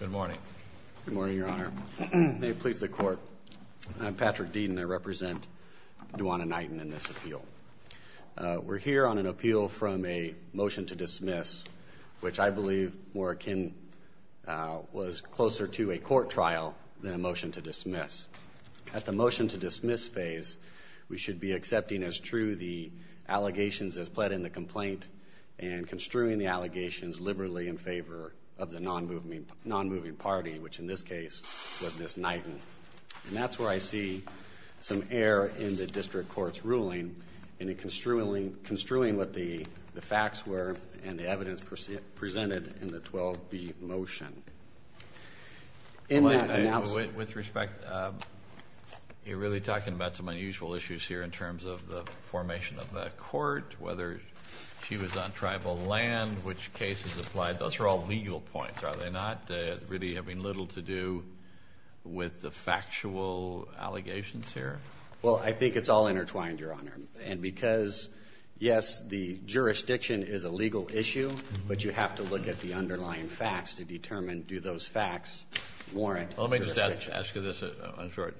Good morning. Good morning, Your Honor. May it please the Court, I'm Patrick Deaton. I represent Duanna Knighton in this appeal. We're here on an appeal from a motion to dismiss, which I believe, more akin, was closer to a court trial than a motion to dismiss. At the motion to dismiss phase, we should be accepting as true the allegations as pled in the complaint and construing the allegations liberally in favor of the non-moving party, which in this case was Ms. Knighton. And that's where I see some error in the district court's ruling in construing what the facts were and the evidence presented in the 12B motion. With respect, you're really talking about some unusual issues here in terms of the formation of a court, whether she was on tribal land, which cases applied. Those are all legal points, are they not, really having little to do with the factual allegations here? Well, I think it's all intertwined, Your Honor. And because, yes, the jurisdiction is a legal issue, but you have to look at the underlying facts to determine do those facts warrant jurisdiction. Let me just ask you this, in short.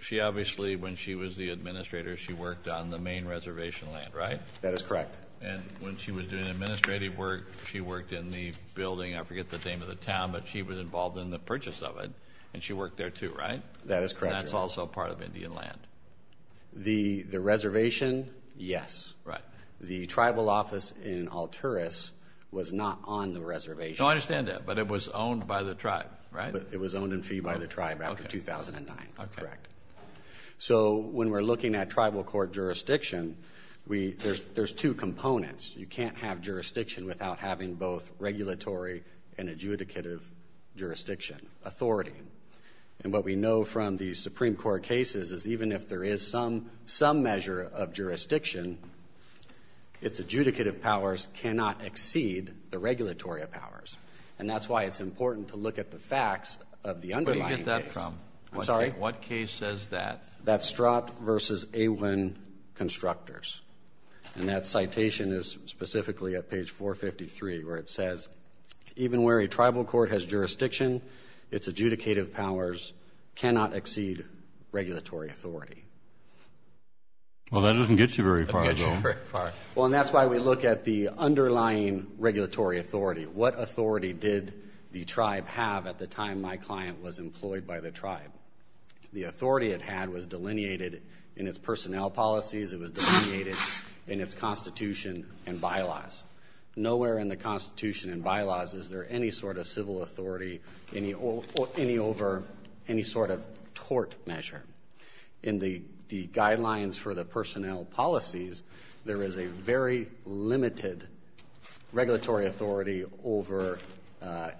She obviously, when she was the administrator, she worked on the main reservation land, right? That is correct. And when she was doing administrative work, she worked in the building, I forget the name of the town, but she was involved in the purchase of it, and she worked there, too, right? That is correct, Your Honor. And that's also part of Indian land. The reservation, yes. Right. The tribal office in Alturas was not on the reservation. No, I understand that, but it was owned by the tribe, right? It was owned in fee by the tribe after 2009. Okay. Correct. So when we're looking at tribal court jurisdiction, there's two components. You can't have jurisdiction without having both regulatory and adjudicative jurisdiction, authority. And what we know from these Supreme Court cases is even if there is some measure of jurisdiction, its adjudicative powers cannot exceed the regulatory powers. And that's why it's important to look at the facts of the underlying case. Where do you get that from? I'm sorry? What case says that? That's Strott v. Awin Constructors. And that citation is specifically at page 453 where it says, even where a tribal court has jurisdiction, its adjudicative powers cannot exceed regulatory authority. Well, that doesn't get you very far, though. It doesn't get you very far. Well, and that's why we look at the underlying regulatory authority. What authority did the tribe have at the time my client was employed by the tribe? The authority it had was delineated in its personnel policies. It was delineated in its constitution and bylaws. Nowhere in the constitution and bylaws is there any sort of civil authority over any sort of tort measure. In the guidelines for the personnel policies, there is a very limited regulatory authority over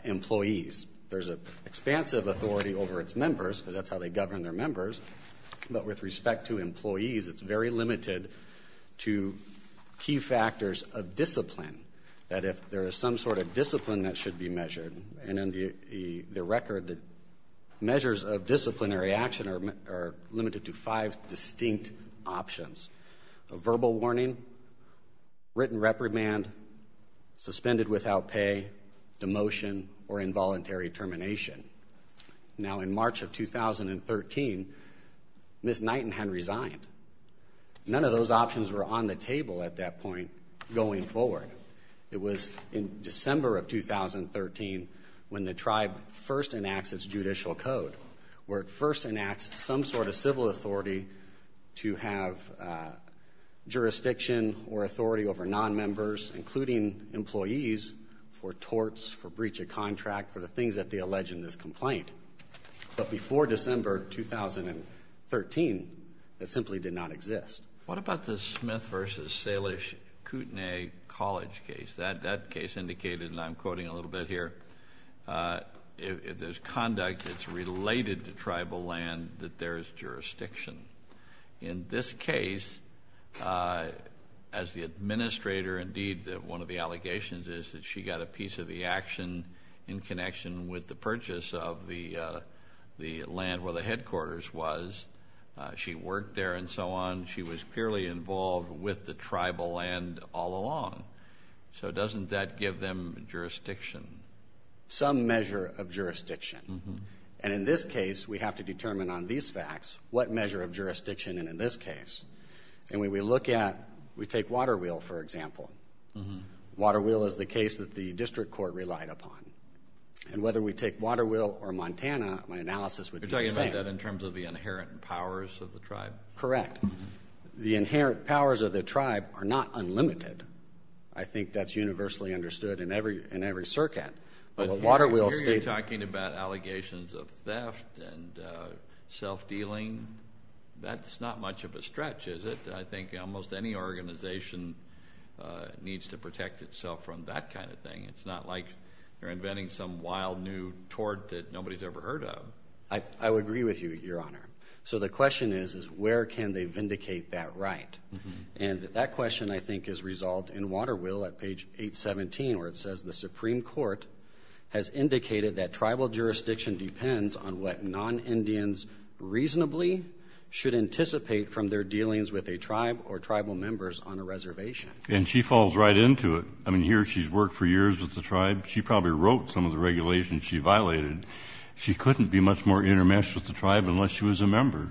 employees. There's an expansive authority over its members because that's how they govern their members. But with respect to employees, it's very limited to key factors of discipline, that if there is some sort of discipline that should be measured. And in the record, the measures of disciplinary action are limited to five distinct options. A verbal warning, written reprimand, suspended without pay, demotion, or involuntary termination. Now, in March of 2013, Ms. Nightingham resigned. None of those options were on the table at that point going forward. It was in December of 2013 when the tribe first enacts its judicial code, where it first enacts some sort of civil authority to have jurisdiction or authority over nonmembers, including employees, for torts, for breach of contract, for the things that they allege in this complaint. But before December 2013, that simply did not exist. What about the Smith v. Salish Kootenai College case? That case indicated, and I'm quoting a little bit here, if there's conduct that's related to tribal land, that there is jurisdiction. In this case, as the administrator, indeed, one of the allegations is that she got a piece of the action in connection with the purchase of the land where the headquarters was. She worked there and so on. She was clearly involved with the tribal land all along. So doesn't that give them jurisdiction? Some measure of jurisdiction. And in this case, we have to determine on these facts what measure of jurisdiction in this case. And when we look at, we take Waterwheel, for example. Waterwheel is the case that the district court relied upon. And whether we take Waterwheel or Montana, my analysis would be the same. You're talking about that in terms of the inherent powers of the tribe? Correct. The inherent powers of the tribe are not unlimited. I think that's universally understood in every circuit. But here you're talking about allegations of theft and self-dealing. That's not much of a stretch, is it? I think almost any organization needs to protect itself from that kind of thing. It's not like you're inventing some wild new tort that nobody's ever heard of. I would agree with you, Your Honor. So the question is, is where can they vindicate that right? And that question, I think, is resolved in Waterwheel at page 817 where it says, the Supreme Court has indicated that tribal jurisdiction depends on what non-Indians reasonably should anticipate from their dealings with a tribe or tribal members on a reservation. And she falls right into it. I mean, here she's worked for years with the tribe. She probably wrote some of the regulations she violated. She couldn't be much more intermeshed with the tribe unless she was a member.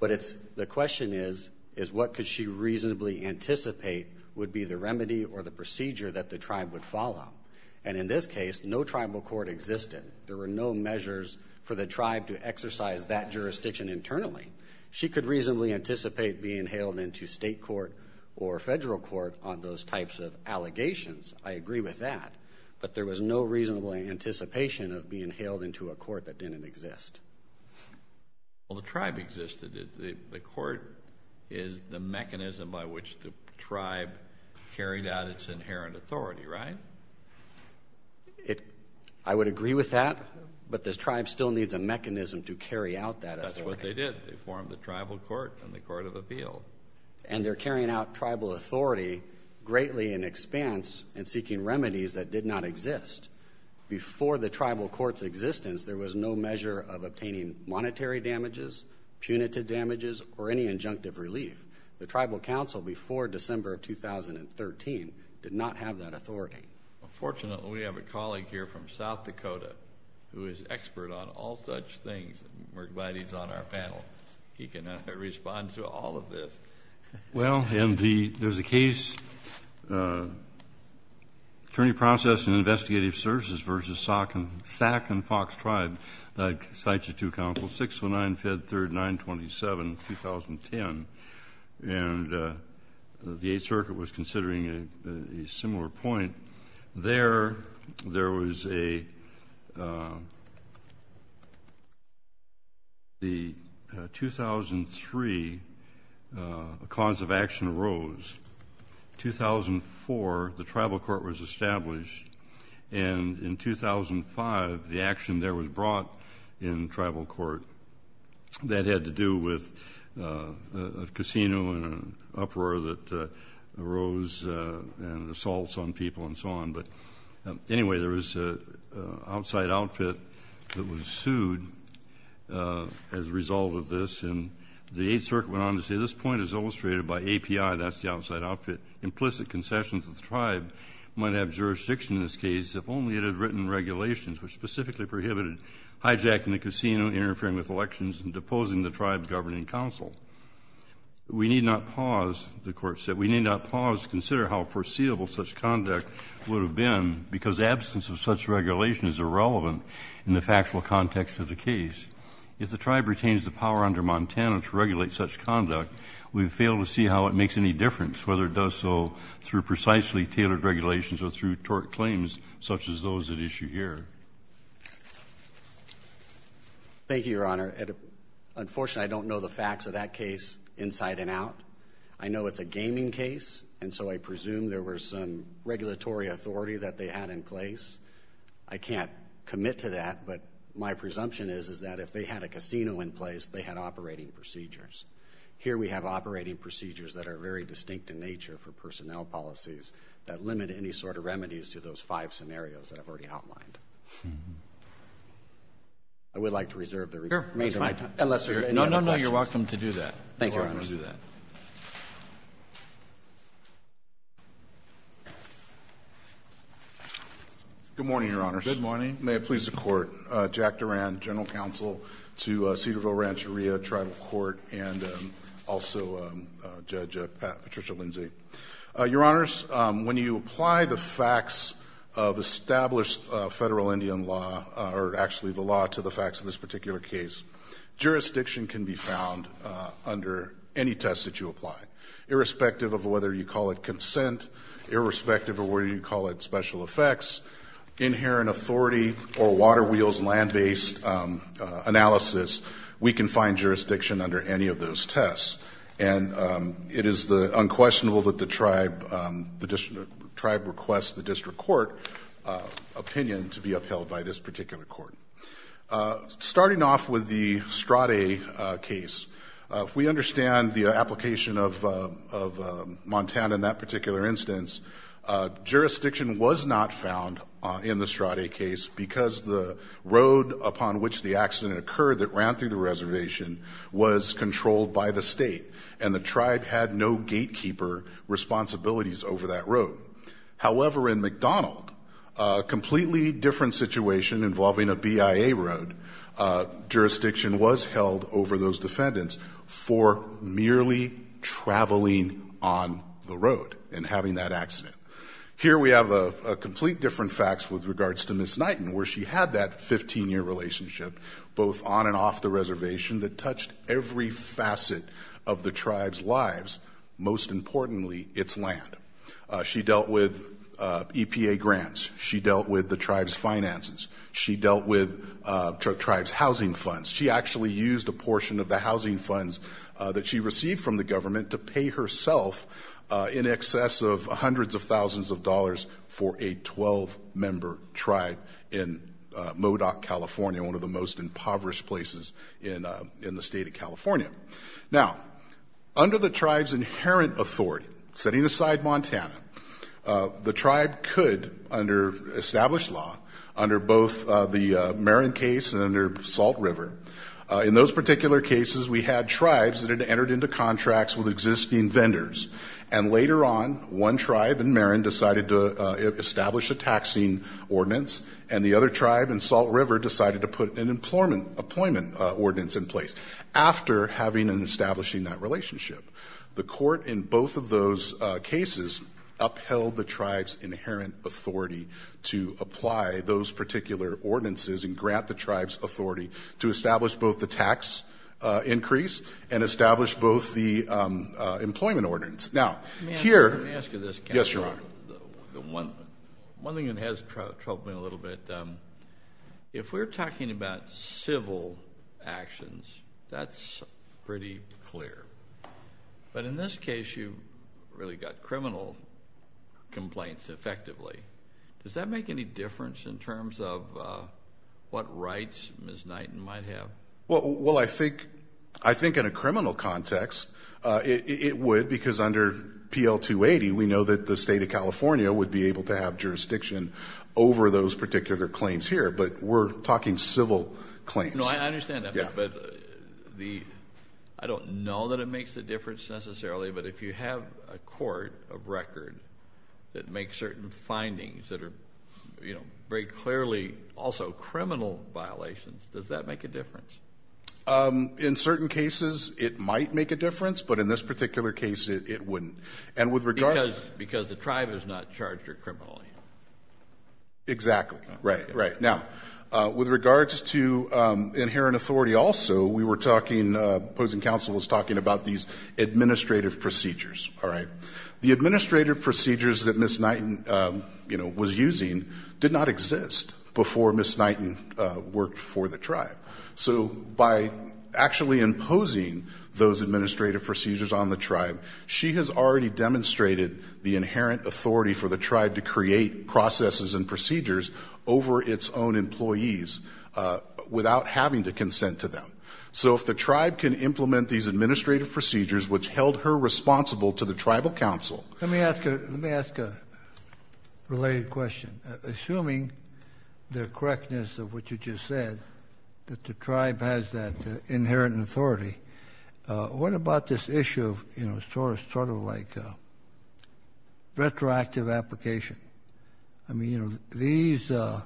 But the question is, is what could she reasonably anticipate would be the remedy or the procedure that the tribe would follow? And in this case, no tribal court existed. There were no measures for the tribe to exercise that jurisdiction internally. She could reasonably anticipate being hailed into state court or federal court on those types of allegations. I agree with that. But there was no reasonable anticipation of being hailed into a court that didn't exist. Well, the tribe existed. The court is the mechanism by which the tribe carried out its inherent authority, right? I would agree with that. But the tribe still needs a mechanism to carry out that authority. That's what they did. They formed the tribal court and the court of appeal. And they're carrying out tribal authority greatly in expanse and seeking remedies that did not exist. Before the tribal court's existence, there was no measure of obtaining monetary damages, punitive damages, or any injunctive relief. The tribal council before December of 2013 did not have that authority. Well, fortunately, we have a colleague here from South Dakota who is expert on all such things. We're glad he's on our panel. He can respond to all of this. Well, and there's a case, Attorney Process and Investigative Services v. SAC and Fox Tribe, like sites of two councils, 619, Fed 3rd, 927, 2010. And the Eighth Circuit was considering a similar point. There, there was a 2003, a cause of action arose. 2004, the tribal court was established. And in 2005, the action there was brought in tribal court. That had to do with a casino and an uproar that arose and assaults on people and so on. But anyway, there was an outside outfit that was sued as a result of this. And the Eighth Circuit went on to say this point is illustrated by API. That's the outside outfit. Implicit concessions of the tribe might have jurisdiction in this case if only it had written regulations which specifically prohibited hijacking the casino, interfering with elections, and deposing the tribe's governing council. We need not pause, the court said, we need not pause to consider how foreseeable such conduct would have been because absence of such regulation is irrelevant in the factual context of the case. If the tribe retains the power under Montana to regulate such conduct, we would fail to see how it makes any difference, whether it does so through precisely tailored regulations or through tort claims such as those at issue here. Thank you, Your Honor. Unfortunately, I don't know the facts of that case inside and out. I know it's a gaming case, and so I presume there was some regulatory authority that they had in place. I can't commit to that, but my presumption is that if they had a casino in place, they had operating procedures. Here we have operating procedures that are very distinct in nature for personnel policies that limit any sort of remedies to those five scenarios that I've already outlined. I would like to reserve the remainder of my time. Unless there are any other questions. No, no, no. You're welcome to do that. Thank you, Your Honor. Good morning, Your Honors. Good morning. May it please the Court. Jack Duran, General Counsel to Cedarville Rancheria Tribal Court and also Judge Patricia Lindsay. Your Honors, when you apply the facts of established federal Indian law or actually the law to the facts of this particular case, jurisdiction can be found under any test that you apply. Irrespective of whether you call it consent, irrespective of whether you call it special effects, inherent authority or water wheels, land-based analysis, we can find jurisdiction under any of those tests. And it is unquestionable that the tribe requests the district court opinion to be upheld by this particular court. Starting off with the Strade case, if we understand the application of Montana in that particular instance, jurisdiction was not found in the Strade case because the road upon which the accident occurred that ran through the reservation was controlled by the state, and the tribe had no gatekeeper responsibilities over that road. However, in McDonald, a completely different situation involving a BIA road, jurisdiction was held over those defendants for merely traveling on the road and having that accident. Here we have a complete different facts with regards to Ms. Knighton, where she had that 15-year relationship both on and off the reservation that touched every facet of the tribe's lives, most importantly its land. She dealt with EPA grants. She dealt with the tribe's finances. She dealt with the tribe's housing funds. She actually used a portion of the housing funds that she received from the government to pay herself in excess of hundreds of thousands of dollars for a 12-member tribe in Modoc, California, one of the most impoverished places in the state of California. Now, under the tribe's inherent authority, setting aside Montana, the tribe could, under established law, under both the Marin case and under Salt River, in those particular cases we had tribes that had entered into contracts with existing vendors. And later on, one tribe in Marin decided to establish a taxing ordinance, and the other tribe in Salt River decided to put an employment ordinance in place. After having and establishing that relationship, the court in both of those cases upheld the tribe's inherent authority to apply those particular ordinances and grant the tribe's authority to establish both the tax increase and establish both the employment ordinance. Now, here. Let me ask you this. Yes, Your Honor. One thing that has troubled me a little bit, if we're talking about civil actions, that's pretty clear. But in this case, you really got criminal complaints effectively. Does that make any difference in terms of what rights Ms. Knighton might have? Well, I think in a criminal context it would, because under PL-280, we know that the state of California would be able to have jurisdiction over those particular claims here. But we're talking civil claims. No, I understand that. Yeah. But I don't know that it makes a difference necessarily, but if you have a court of record that makes certain findings that are very clearly also criminal violations, does that make a difference? In certain cases it might make a difference, but in this particular case it wouldn't. Because the tribe is not charged or criminally. Exactly. Right, right. Now, with regards to inherent authority also, we were talking, opposing counsel was talking about these administrative procedures. All right. The administrative procedures that Ms. Knighton, you know, was using did not exist before Ms. Knighton worked for the tribe. So by actually imposing those administrative procedures on the tribe, she has already demonstrated the inherent authority for the tribe to create processes and procedures over its own employees without having to consent to them. So if the tribe can implement these administrative procedures, which held her responsible to the tribal counsel. Let me ask a related question. Assuming the correctness of what you just said, that the tribe has that inherent authority, what about this issue of, you know, sort of like retroactive application? I mean, you know, these, I'll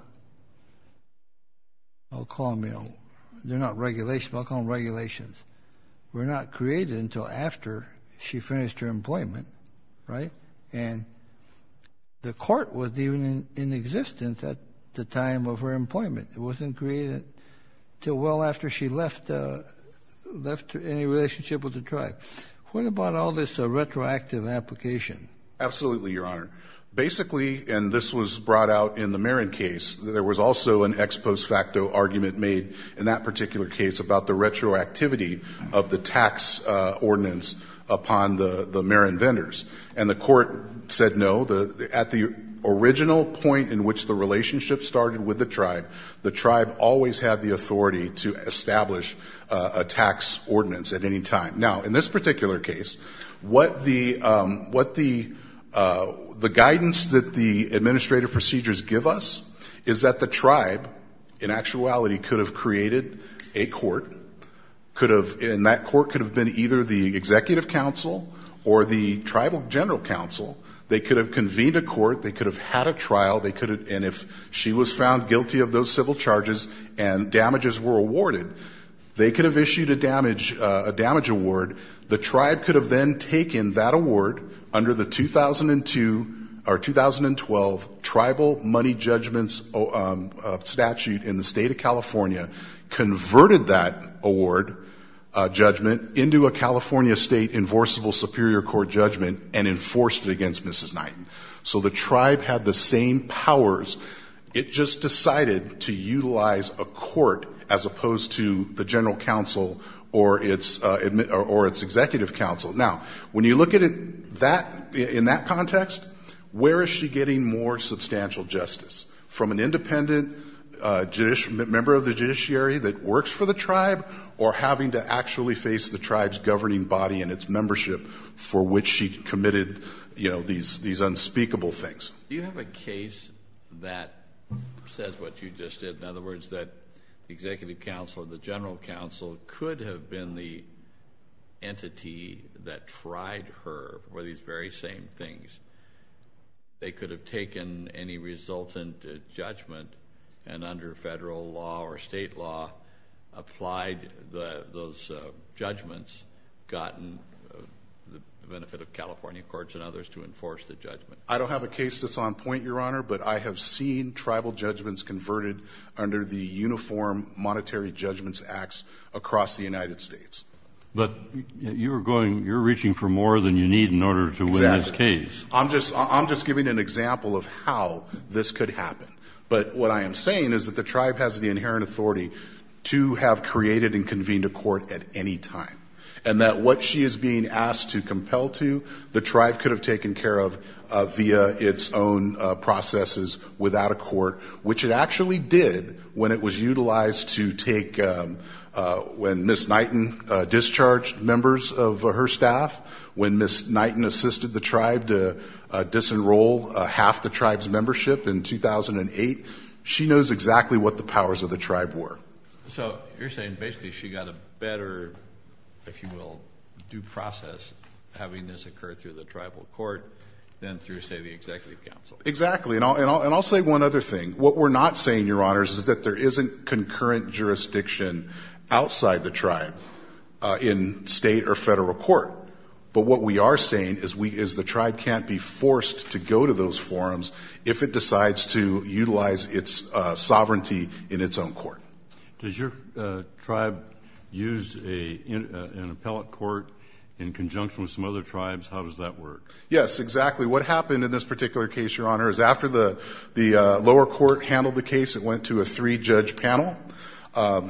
call them, you know, they're not regulations, but I'll call them regulations, were not created until after she finished her employment, right? And the court was even in existence at the time of her employment. It wasn't created until well after she left any relationship with the tribe. What about all this retroactive application? Absolutely, Your Honor. Basically, and this was brought out in the Marin case, there was also an ex post facto argument made in that particular case about the retroactivity of the tax ordinance upon the Marin vendors. And the court said no, at the original point in which the relationship started with the tribe, the tribe always had the authority to establish a tax ordinance at any time. Now, in this particular case, what the guidance that the administrative procedures give us is that the tribe, in actuality, could have created a court, could have, and that court could have been either the executive council or the tribal general council. They could have convened a court. They could have had a trial. They could have, and if she was found guilty of those civil charges and damages were awarded, they could have issued a damage award. The tribe could have then taken that award under the 2002 or 2012 tribal money judgments statute in the state of California, converted that award judgment into a California state enforceable superior court judgment, and enforced it against Mrs. Knighton. So the tribe had the same powers. It just decided to utilize a court as opposed to the general council or its executive council. Now, when you look at it in that context, where is she getting more substantial justice, from an independent member of the judiciary that works for the tribe or having to actually face the tribe's governing body and its membership for which she committed, you know, these unspeakable things? Do you have a case that says what you just did? In other words, that the executive council or the general council could have been the entity that tried her for these very same things. They could have taken any resultant judgment and under federal law or state law applied those judgments, gotten the benefit of California courts and others to enforce the judgment. I don't have a case that's on point, Your Honor, but I have seen tribal judgments converted under the Uniform Monetary Judgments Acts across the United States. But you're reaching for more than you need in order to win this case. I'm just giving an example of how this could happen. But what I am saying is that the tribe has the inherent authority to have created and convened a court at any time, and that what she is being asked to compel to, the tribe could have taken care of via its own processes without a court, which it actually did when it was utilized to take when Ms. Knighton discharged members of her staff, when Ms. Knighton assisted the tribe to disenroll half the tribe's membership in 2008. She knows exactly what the powers of the tribe were. So you're saying basically she got a better, if you will, due process having this occur through the tribal court than through, say, the executive council. Exactly. And I'll say one other thing. What we're not saying, Your Honors, is that there isn't concurrent jurisdiction outside the tribe in state or federal court. But what we are saying is the tribe can't be forced to go to those forums if it decides to utilize its sovereignty in its own court. Does your tribe use an appellate court in conjunction with some other tribes? How does that work? Yes, exactly. What happened in this particular case, Your Honor, is after the lower court handled the case, it went to a three-judge panel.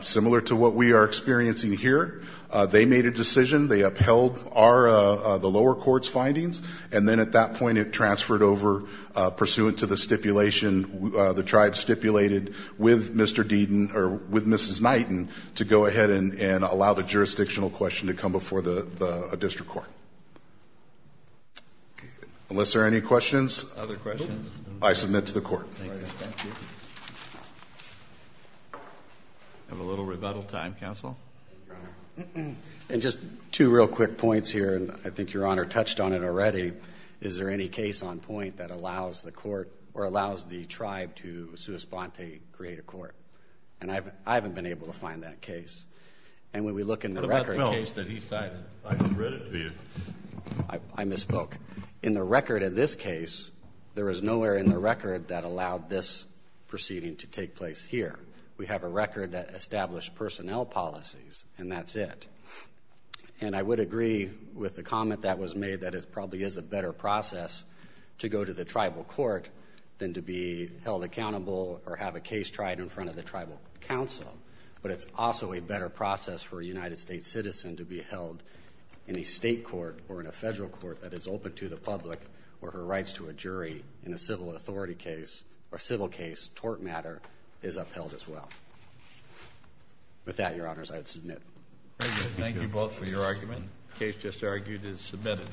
Similar to what we are experiencing here, they made a decision. They upheld the lower court's findings. And then at that point it transferred over pursuant to the stipulation the tribe stipulated with Mr. Deaton or with Mrs. Knighton to go ahead and allow the jurisdictional question to come before the district court. Okay. Unless there are any questions? Other questions? I submit to the court. Thank you. We have a little rebuttal time, counsel. And just two real quick points here, and I think Your Honor touched on it already. Is there any case on point that allows the court or allows the tribe to sua sponte, create a court? And I haven't been able to find that case. And when we look in the record case that he cited. I misspoke. In the record of this case, there is nowhere in the record that allowed this proceeding to take place here. We have a record that established personnel policies, and that's it. And I would agree with the comment that was made that it probably is a better process to go to the tribal court than to be held accountable or have a case tried in front of the tribal council. But it's also a better process for a United States citizen to be held in a state court or in a federal court that is open to the public where her rights to a jury in a civil authority case or civil case, tort matter, is upheld as well. With that, Your Honors, I would submit. Thank you both for your argument. The case just argued is submitted.